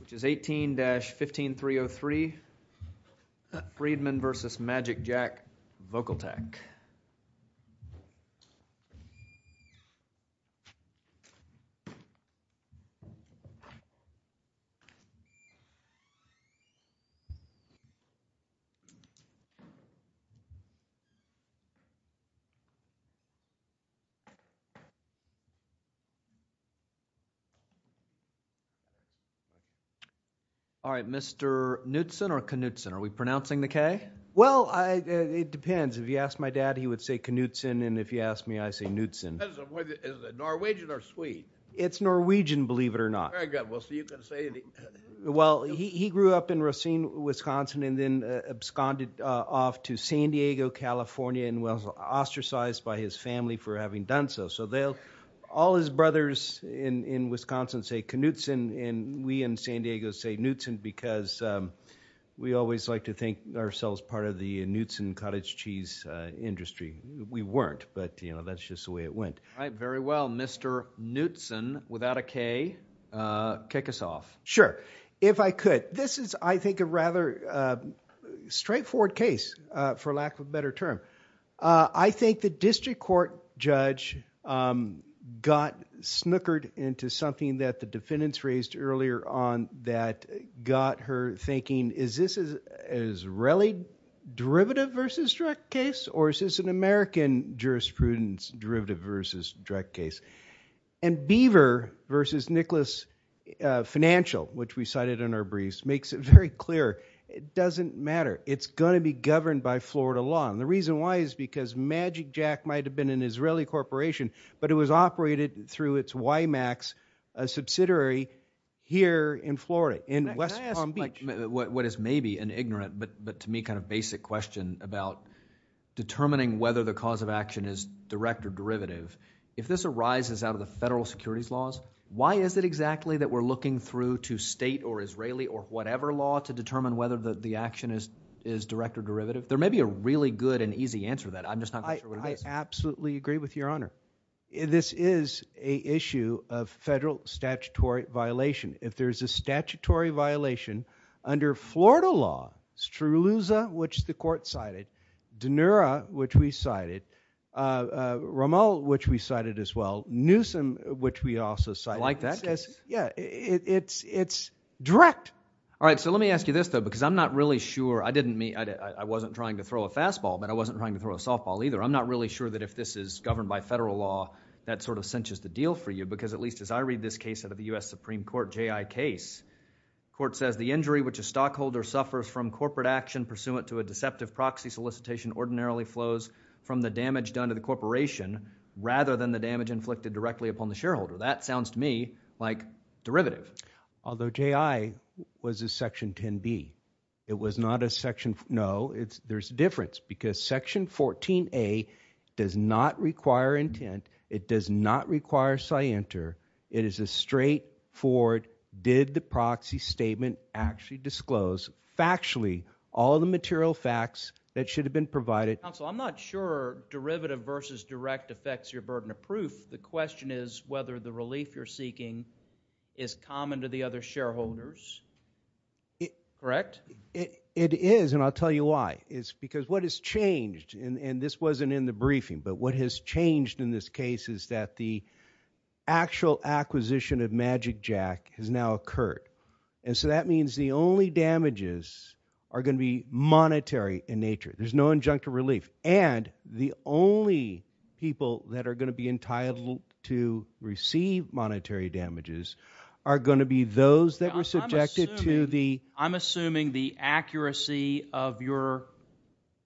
Which is 18-15303 Freedman v. MagicJack Volatec. All right, Mr. Knudsen or Knudsen? Are we pronouncing the K? Well, it depends. If you ask my dad, he would say Knudsen, and if you ask me, I say Knudsen. It depends on whether it's Norwegian or Swede. It's Norwegian, believe it or not. Very good. We'll see if you can say it. Well, he grew up in Racine, Wisconsin, and then absconded off to San Diego, California, and was ostracized by his family for having done so. So all his brothers in Wisconsin say Knudsen, and we in San Diego say Knudsen because we always like to think ourselves part of the Knudsen cottage cheese industry. We weren't, but that's just the way it went. All right, very well. Mr. Knudsen, without a K, kick us off. Sure, if I could. This is, I think, a rather straightforward case, for lack of a better term. I think the district court judge got snookered into something that the defendants raised earlier on that got her thinking, is this an Israeli derivative versus direct case, or is this an American jurisprudence derivative versus direct case? And Beaver versus Nicholas Financial, which we cited in our briefs, makes it very clear. It doesn't matter. It's going to be governed by Florida law, and the reason why is because Magic Jack might have been an Israeli corporation, but it was operated through its YMAX subsidiary here in Florida, in West Palm Beach. Can I ask what is maybe an ignorant but to me kind of basic question about determining whether the cause of action is direct or derivative? If this arises out of the federal securities laws, why is it exactly that we're looking through to state or Israeli or whatever law to determine whether the action is direct or derivative? There may be a really good and easy answer to that. I'm just not sure what it is. I absolutely agree with Your Honor. This is an issue of federal statutory violation. If there's a statutory violation under Florida law, Stroulouza, which the court cited, DeNura, which we cited, Rommel, which we cited as well, Newsom, which we also cited. I like that case. Yeah, it's direct. All right, so let me ask you this, though, because I'm not really sure. I wasn't trying to throw a fastball, but I wasn't trying to throw a softball either. I'm not really sure that if this is governed by federal law, that sort of cinches the deal for you because at least as I read this case out of the U.S. Supreme Court, J.I. case, the court says the injury which a stockholder suffers from corporate action pursuant to a deceptive proxy solicitation ordinarily flows from the damage done to the corporation rather than the damage inflicted directly upon the shareholder. That sounds to me like derivative. Although J.I. was a Section 10B. It was not a Section, no. There's a difference because Section 14A does not require intent. It does not require scienter. It is a straightforward did the proxy statement actually disclose factually all the material facts that should have been provided. Counsel, I'm not sure derivative versus direct affects your burden of proof. The question is whether the relief you're seeking is common to the other shareholders. Correct? It is, and I'll tell you why. It's because what has changed, and this wasn't in the briefing, but what has changed in this case is that the actual acquisition of MagicJack has now occurred. And so that means the only damages are going to be monetary in nature. There's no injunctive relief. And the only people that are going to be entitled to receive monetary damages are going to be those that were subjected to the... I'm assuming the accuracy of your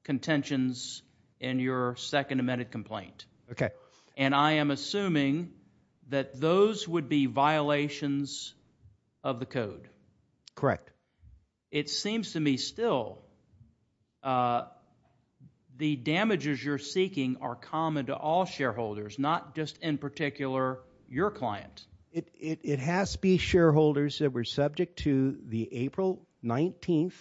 contentions in your second amended complaint. Okay. And I am assuming that those would be violations of the code. Correct. It seems to me still the damages you're seeking are common to all shareholders, not just in particular your client. It has to be shareholders that were subject to the April 19th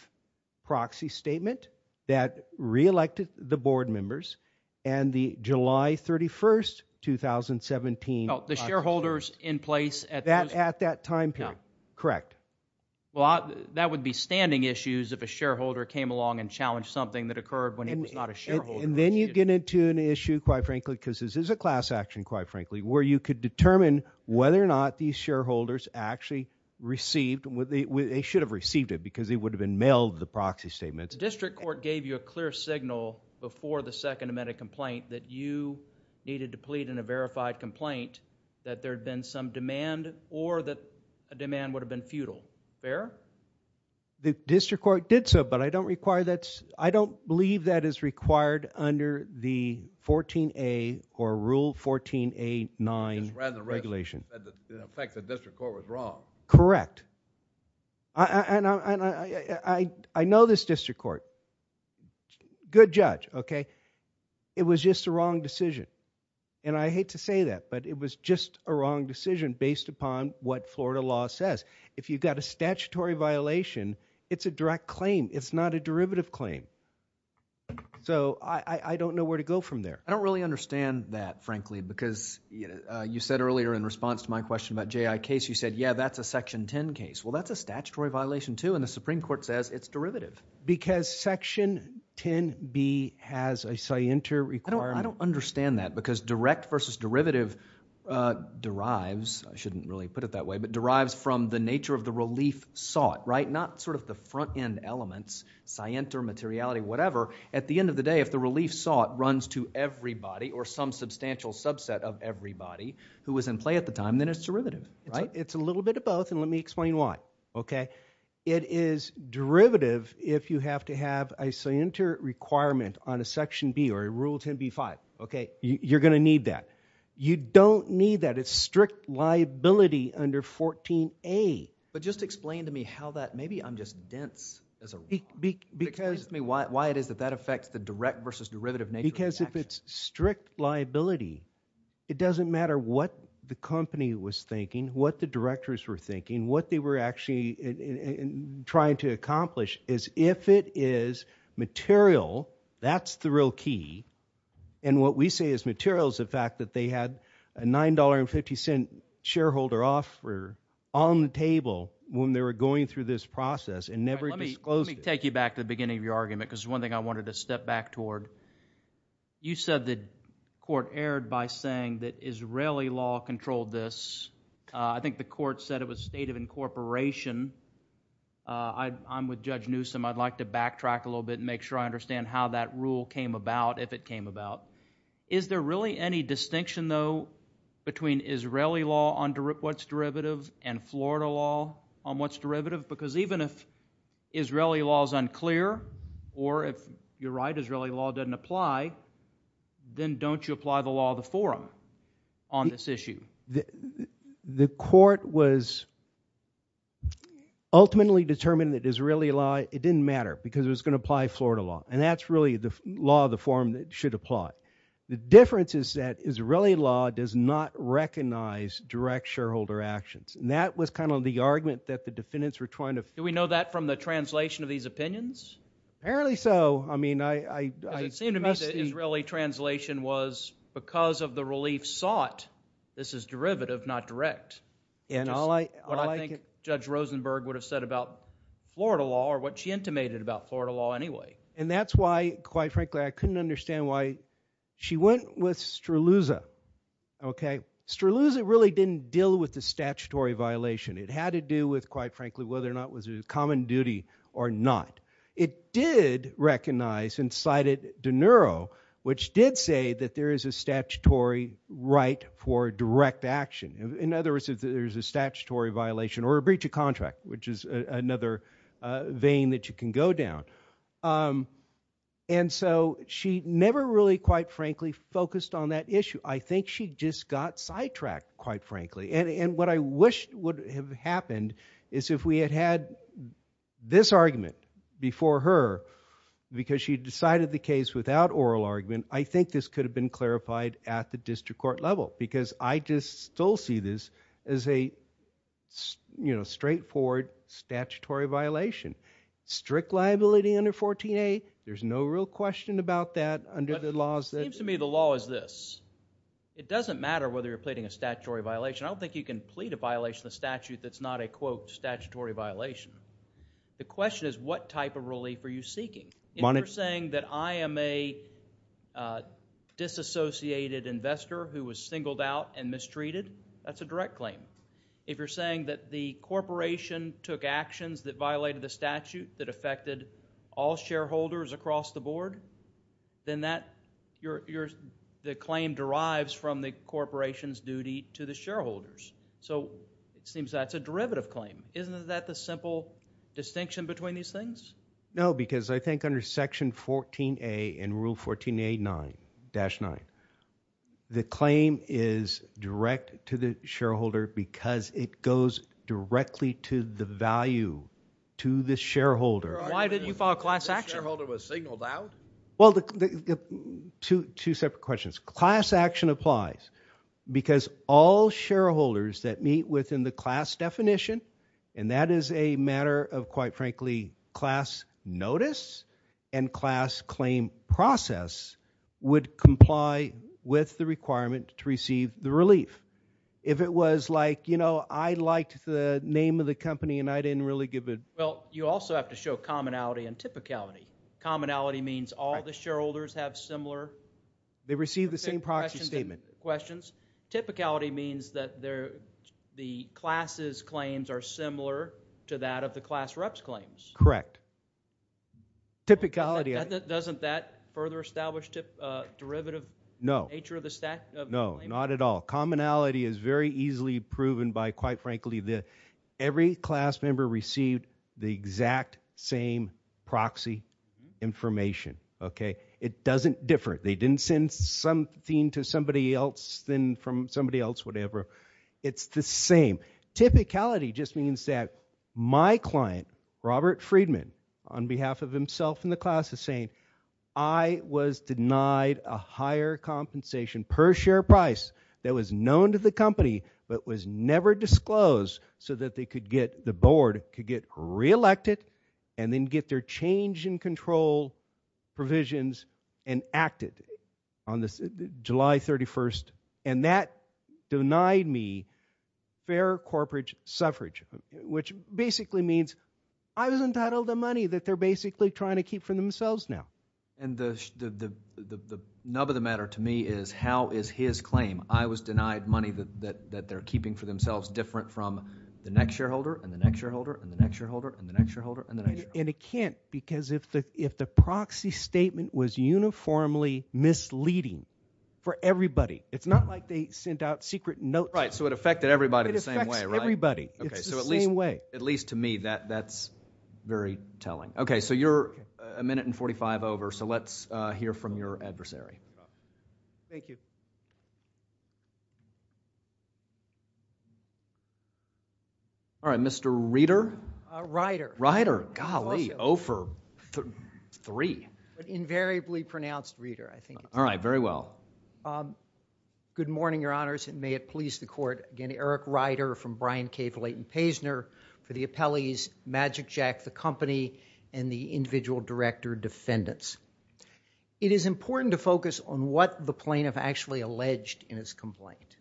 proxy statement that reelected the board members, and the July 31st, 2017... No, the shareholders in place at... At that time period. No. Correct. Well, that would be standing issues if a shareholder came along and challenged something that occurred when he was not a shareholder. And then you get into an issue, quite frankly, because this is a class action, quite frankly, where you could determine whether or not these shareholders actually received... They should have received it because it would have been mailed, the proxy statement. The district court gave you a clear signal before the second amended complaint that you needed to plead in a verified complaint that there had been some demand or that a demand would have been futile. Fair? The district court did so, but I don't require that... It was just a wrong decision, and I hate to say that, but it was just a wrong decision based upon what Florida law says. If you've got a statutory violation, it's a direct claim. It's not a derivative claim, so I don't know where to go from there. I don't really understand that, frankly, because you said earlier in response to my question about J.I. Case, you said, yeah, that's a Section 10 case. Well, that's a statutory violation, too, and the Supreme Court says it's derivative. Because Section 10B has a scienter requirement? I don't understand that because direct versus derivative derives... I shouldn't really put it that way, but derives from the nature of the relief sought, right? Not sort of the front-end elements, scienter, materiality, whatever. At the end of the day, if the relief sought runs to everybody or some substantial subset of everybody who was in play at the time, then it's derivative, right? It's a little bit of both, and let me explain why. It is derivative if you have to have a scienter requirement on a Section B or a Rule 10B-5. You're going to need that. You don't need that. It's strict liability under 14A. But just explain to me how that... maybe I'm just dense as a... Just explain to me why it is that that affects the direct versus derivative nature of the action. Because if it's strict liability, it doesn't matter what the company was thinking, what the directors were thinking, what they were actually trying to accomplish, is if it is material, that's the real key. And what we say is material is the fact that they had a $9.50 shareholder offer on the table Let me take you back to the beginning of your argument because it's one thing I wanted to step back toward. You said the court erred by saying that Israeli law controlled this. I think the court said it was state of incorporation. I'm with Judge Newsom. I'd like to backtrack a little bit and make sure I understand how that rule came about, if it came about. Is there really any distinction, though, between Israeli law on what's derivative and Florida law on what's derivative? Because even if Israeli law is unclear or, if you're right, Israeli law doesn't apply, then don't you apply the law of the forum on this issue? The court was ultimately determined that Israeli law, it didn't matter because it was going to apply Florida law. And that's really the law of the forum that should apply. The difference is that Israeli law does not recognize direct shareholder actions. And that was kind of the argument that the defendants were trying to— Do we know that from the translation of these opinions? Apparently so. Because it seemed to me that Israeli translation was because of the relief sought, this is derivative, not direct. Which is what I think Judge Rosenberg would have said about Florida law or what she intimated about Florida law anyway. And that's why, quite frankly, I couldn't understand why she went with Straluza. Straluza really didn't deal with the statutory violation. It had to do with, quite frankly, whether or not it was a common duty or not. It did recognize and cited De Niro, which did say that there is a statutory right for direct action. In other words, if there's a statutory violation or a breach of contract, which is another vein that you can go down. And so she never really, quite frankly, focused on that issue. I think she just got sidetracked, quite frankly. And what I wish would have happened is if we had had this argument before her, because she decided the case without oral argument, I think this could have been clarified at the district court level. Because I just still see this as a straightforward statutory violation. Strict liability under 14A, there's no real question about that under the laws that— But it seems to me the law is this. It doesn't matter whether you're pleading a statutory violation. I don't think you can plead a violation of statute that's not a, quote, statutory violation. The question is what type of relief are you seeking? If you're saying that I am a disassociated investor who was singled out and mistreated, that's a direct claim. If you're saying that the corporation took actions that violated the statute that affected all shareholders across the board, then the claim derives from the corporation's duty to the shareholders. So it seems that's a derivative claim. Isn't that the simple distinction between these things? No, because I think under Section 14A and Rule 14A-9, the claim is direct to the shareholder because it goes directly to the value to the shareholder. Why didn't you file a class action? The shareholder was signaled out? Well, two separate questions. Class action applies because all shareholders that meet within the class definition, and that is a matter of, quite frankly, class notice and class claim process, would comply with the requirement to receive the relief. If it was like, you know, I liked the name of the company and I didn't really give it... Well, you also have to show commonality and typicality. Commonality means all the shareholders have similar... They receive the same proxy statement. Typicality means that the class's claims are similar to that of the class rep's claims. Correct. Typicality... Doesn't that further establish the derivative nature of the claim? No, not at all. Commonality is very easily proven by, quite frankly, every class member received the exact same proxy information. It doesn't differ. They didn't send something to somebody else then from somebody else, whatever. It's the same. Typicality just means that my client, Robert Friedman, on behalf of himself and the class is saying, I was denied a higher compensation per share price that was known to the company but was never disclosed so that they could get... and acted on this July 31st, and that denied me fair corporate suffrage, which basically means I was entitled to money that they're basically trying to keep for themselves now. And the nub of the matter to me is how is his claim, I was denied money that they're keeping for themselves, different from the next shareholder and the next shareholder and the next shareholder and the next shareholder and the next shareholder. And it can't because if the proxy statement was uniformly misleading for everybody, it's not like they sent out secret notes. Right, so it affected everybody the same way, right? It affects everybody. It's the same way. Okay, so at least to me that's very telling. Okay, so you're a minute and 45 over, so let's hear from your adversary. Thank you. All right, Mr. Reeder? Ryder. Ryder, golly, 0 for 3. Invariably pronounced Reeder, I think. All right, very well. Good morning, your honors, and may it please the court. Again, Eric Ryder from Brian K. Velayton-Paisner for the appellees, Magic Jack, the company, and the individual director defendants. It is important to focus on what the plaintiff actually alleged in his complaint.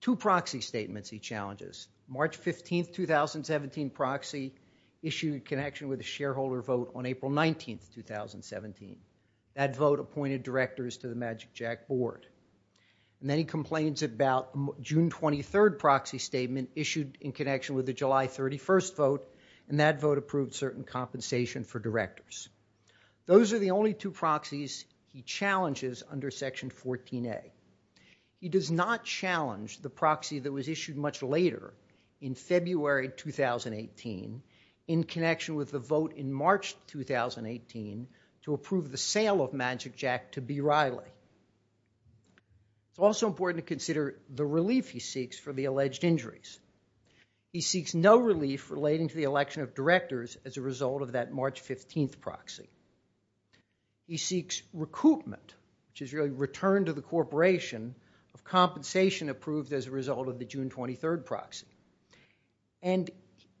Two proxy statements he challenges. March 15th, 2017 proxy issued in connection with a shareholder vote on April 19th, 2017. That vote appointed directors to the Magic Jack board. And then he complains about June 23rd proxy statement issued in connection with the July 31st vote, and that vote approved certain compensation for directors. Those are the only two proxies he challenges under Section 14A. He does not challenge the proxy that was issued much later in February 2018 in connection with the vote in March 2018 to approve the sale of Magic Jack to B. Riley. It's also important to consider the relief he seeks for the alleged injuries. He seeks no relief relating to the election of directors as a result of that March 15th proxy. He seeks recoupment, which is really return to the corporation, of compensation approved as a result of the June 23rd proxy. And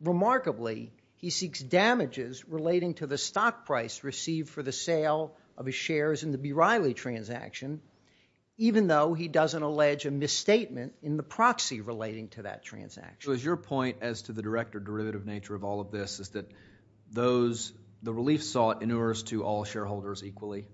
remarkably, he seeks damages relating to the stock price received for the sale of his shares in the B. Riley transaction, even though he doesn't allege a misstatement in the proxy relating to that transaction. So is your point as to the direct or derivative nature of all of this is that the relief sought inures to all shareholders equally?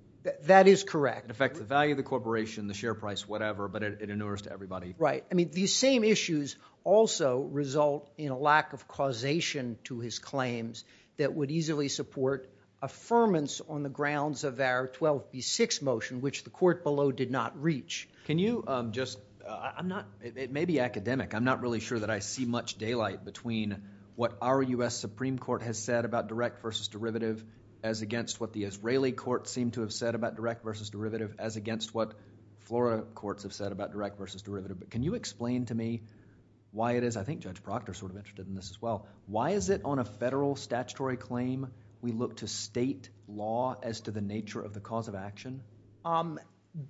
That is correct. In effect, the value of the corporation, the share price, whatever, but it inures to everybody. Right. I mean, these same issues also result in a lack of causation to his claims that would easily support affirmance on the grounds of our 12B6 motion, which the court below did not reach. Can you just, I'm not, it may be academic, I'm not really sure that I see much daylight between what our U.S. Supreme Court has said about direct versus derivative as against what the Israeli court seemed to have said about direct versus derivative as against what Florida courts have said about direct versus derivative. But can you explain to me why it is, I think Judge Proctor is sort of interested in this as well, why is it on a federal statutory claim we look to state law as to the nature of the cause of action?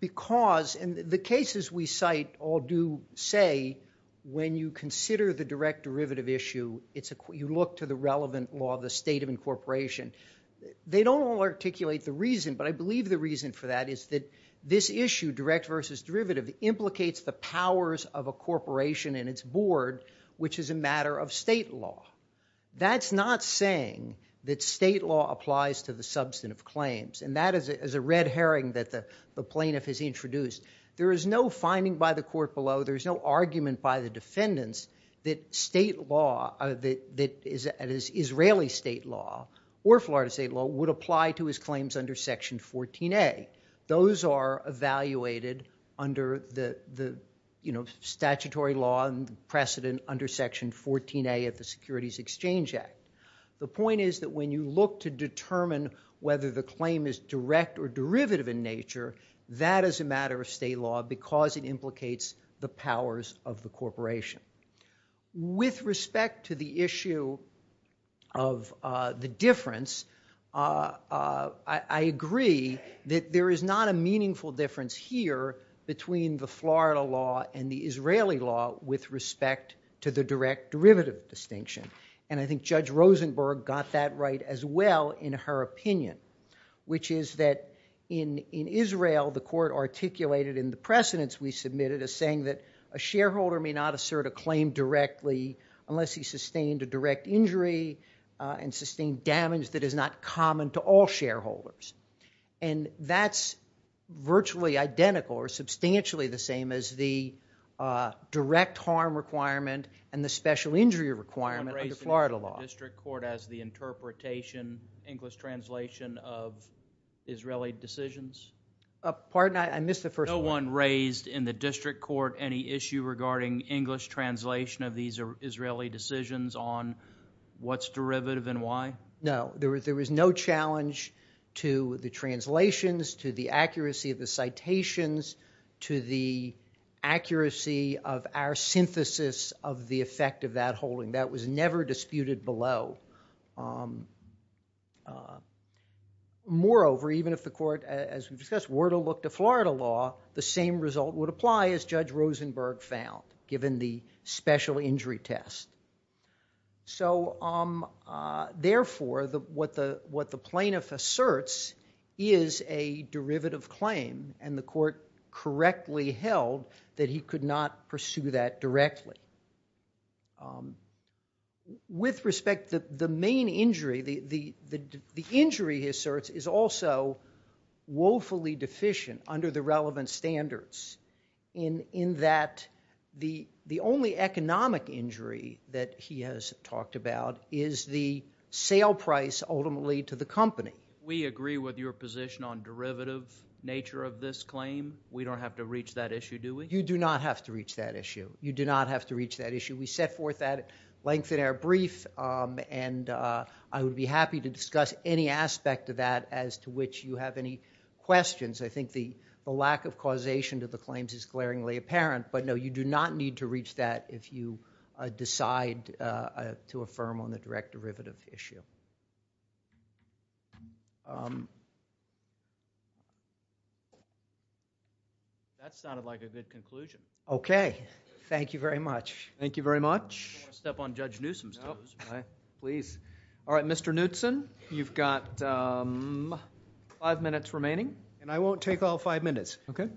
Because in the cases we cite all do say when you consider the direct derivative issue, you look to the relevant law, the state of incorporation. They don't all articulate the reason, but I believe the reason for that is that this issue, direct versus derivative, implicates the powers of a corporation and its board, which is a matter of state law. That's not saying that state law applies to the substantive claims. And that is a red herring that the plaintiff has introduced. There is no finding by the court below, there is no argument by the defendants that state law, that is Israeli state law, or Florida state law, would apply to his claims under Section 14A. Those are evaluated under the statutory law and precedent under Section 14A of the Securities Exchange Act. The point is that when you look to determine whether the claim is direct or derivative in nature, that is a matter of state law because it implicates the powers of the corporation. With respect to the issue of the difference, I agree that there is not a meaningful difference here between the Florida law and the Israeli law with respect to the direct derivative distinction. And I think Judge Rosenberg got that right as well in her opinion, which is that in Israel, the court articulated in the precedents we submitted as saying that a shareholder may not assert a claim directly unless he sustained a direct injury and sustained damage that is not common to all shareholders. And that's virtually identical or substantially the same as the direct harm requirement and the special injury requirement under Florida law. No one raised in the district court any issue regarding English translation of these Israeli decisions on what's derivative and why? No, there was no challenge to the translations, to the accuracy of the citations, to the accuracy of our synthesis of the effect of that holding. That was never disputed below. Moreover, even if the court, as we discussed, were to look to Florida law, the same result would apply as Judge Rosenberg found given the special injury test. So therefore, what the plaintiff asserts is a derivative claim and the court correctly held that he could not pursue that directly. With respect, the main injury, the injury he asserts, is also woefully deficient under the relevant standards in that the only economic injury that he has talked about is the sale price ultimately to the company. We agree with your position on derivative nature of this claim. We don't have to reach that issue, do we? You do not have to reach that issue. You do not have to reach that issue. We set forth that length in our brief, and I would be happy to discuss any aspect of that as to which you have any questions. I think the lack of causation to the claims is glaringly apparent, but no, you do not need to reach that if you decide to affirm on the direct derivative issue. That sounded like a good conclusion. Okay. Thank you very much. Thank you very much. I want to step on Judge Newsom's toes. Please. All right, Mr. Newtson, you've got five minutes remaining. And I won't take all five minutes. Okay.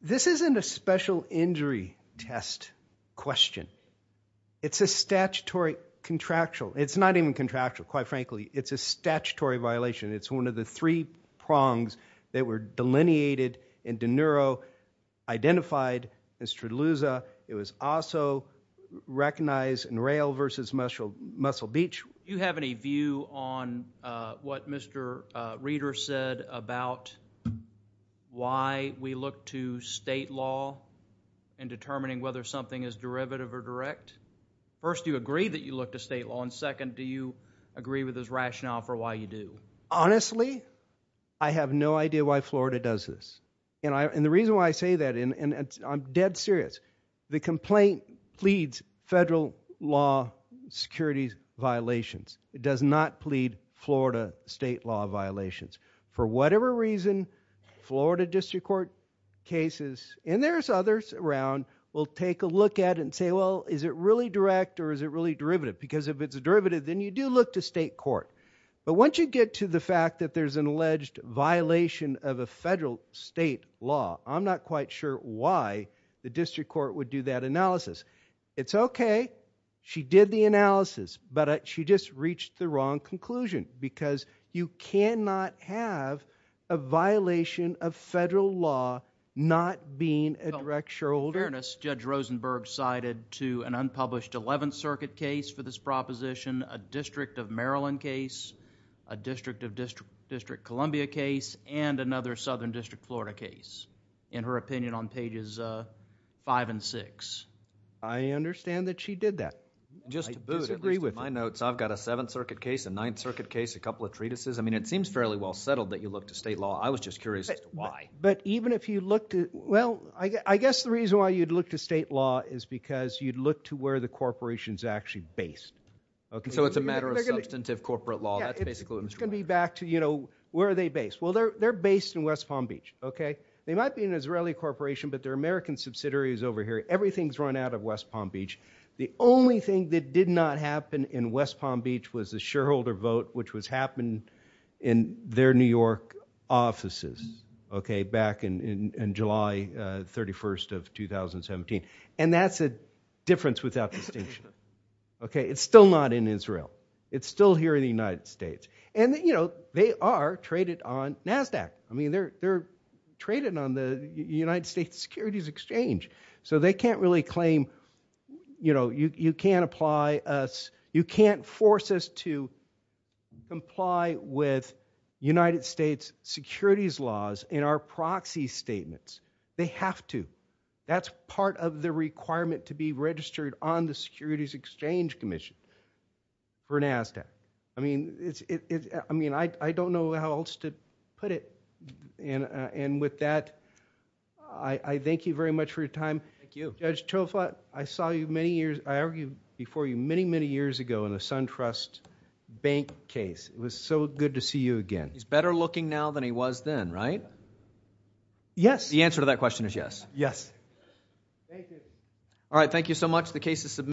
This isn't a special injury test question. It's a statutory contractual. It's not even contractual, quite frankly. It's a statutory violation. It's one of the three prongs that were delineated and De Niro identified as Treluza. It was also recognized in Rail v. Muscle Beach. Do you have any view on what Mr. Reeder said about why we look to state law in determining whether something is derivative or direct? First, do you agree that you look to state law? And second, do you agree with his rationale for why you do? Honestly, I have no idea why Florida does this. And the reason why I say that, and I'm dead serious, the complaint pleads federal law security violations. It does not plead Florida state law violations. For whatever reason, Florida district court cases, and there's others around, will take a look at it and say, well, is it really direct or is it really derivative? Because if it's a derivative, then you do look to state court. But once you get to the fact that there's an alleged violation of a federal state law, I'm not quite sure why the district court would do that analysis. It's okay, she did the analysis, but she just reached the wrong conclusion, because you cannot have a violation of federal law not being a direct shareholder. Your Honor, Judge Rosenberg cited to an unpublished 11th Circuit case for this proposition, a District of Maryland case, a District of District Columbia case, and another Southern District Florida case, in her opinion on pages 5 and 6. I understand that she did that. Just to boot, at least in my notes, I've got a 7th Circuit case, a 9th Circuit case, a couple of treatises. I mean, it seems fairly well settled that you look to state law. I was just curious as to why. But even if you look to... Well, I guess the reason why you'd look to state law is because you'd look to where the corporation's actually based. So it's a matter of substantive corporate law. It's going to be back to, you know, where are they based? Well, they're based in West Palm Beach. They might be an Israeli corporation, but they're American subsidiaries over here. Everything's run out of West Palm Beach. The only thing that did not happen in West Palm Beach was the shareholder vote, which was happening in their New York offices, back in July 31st of 2017. And that's a difference without distinction. It's still not in Israel. It's still here in the United States. And, you know, they are traded on NASDAQ. I mean, they're traded on the United States Securities Exchange. So they can't really claim... You know, you can't apply us... You can't force us to comply with United States securities laws in our proxy statements. They have to. That's part of the requirement to be registered on the Securities Exchange Commission. For NASDAQ. I mean, it's... I mean, I don't know how else to put it. And with that, I thank you very much for your time. Thank you. Judge Tolfat, I saw you many years... I argued before you many, many years ago in the SunTrust Bank case. It was so good to see you again. He's better looking now than he was then, right? Yes. The answer to that question is yes. Yes. Thank you. All right, thank you so much. The case is submitted.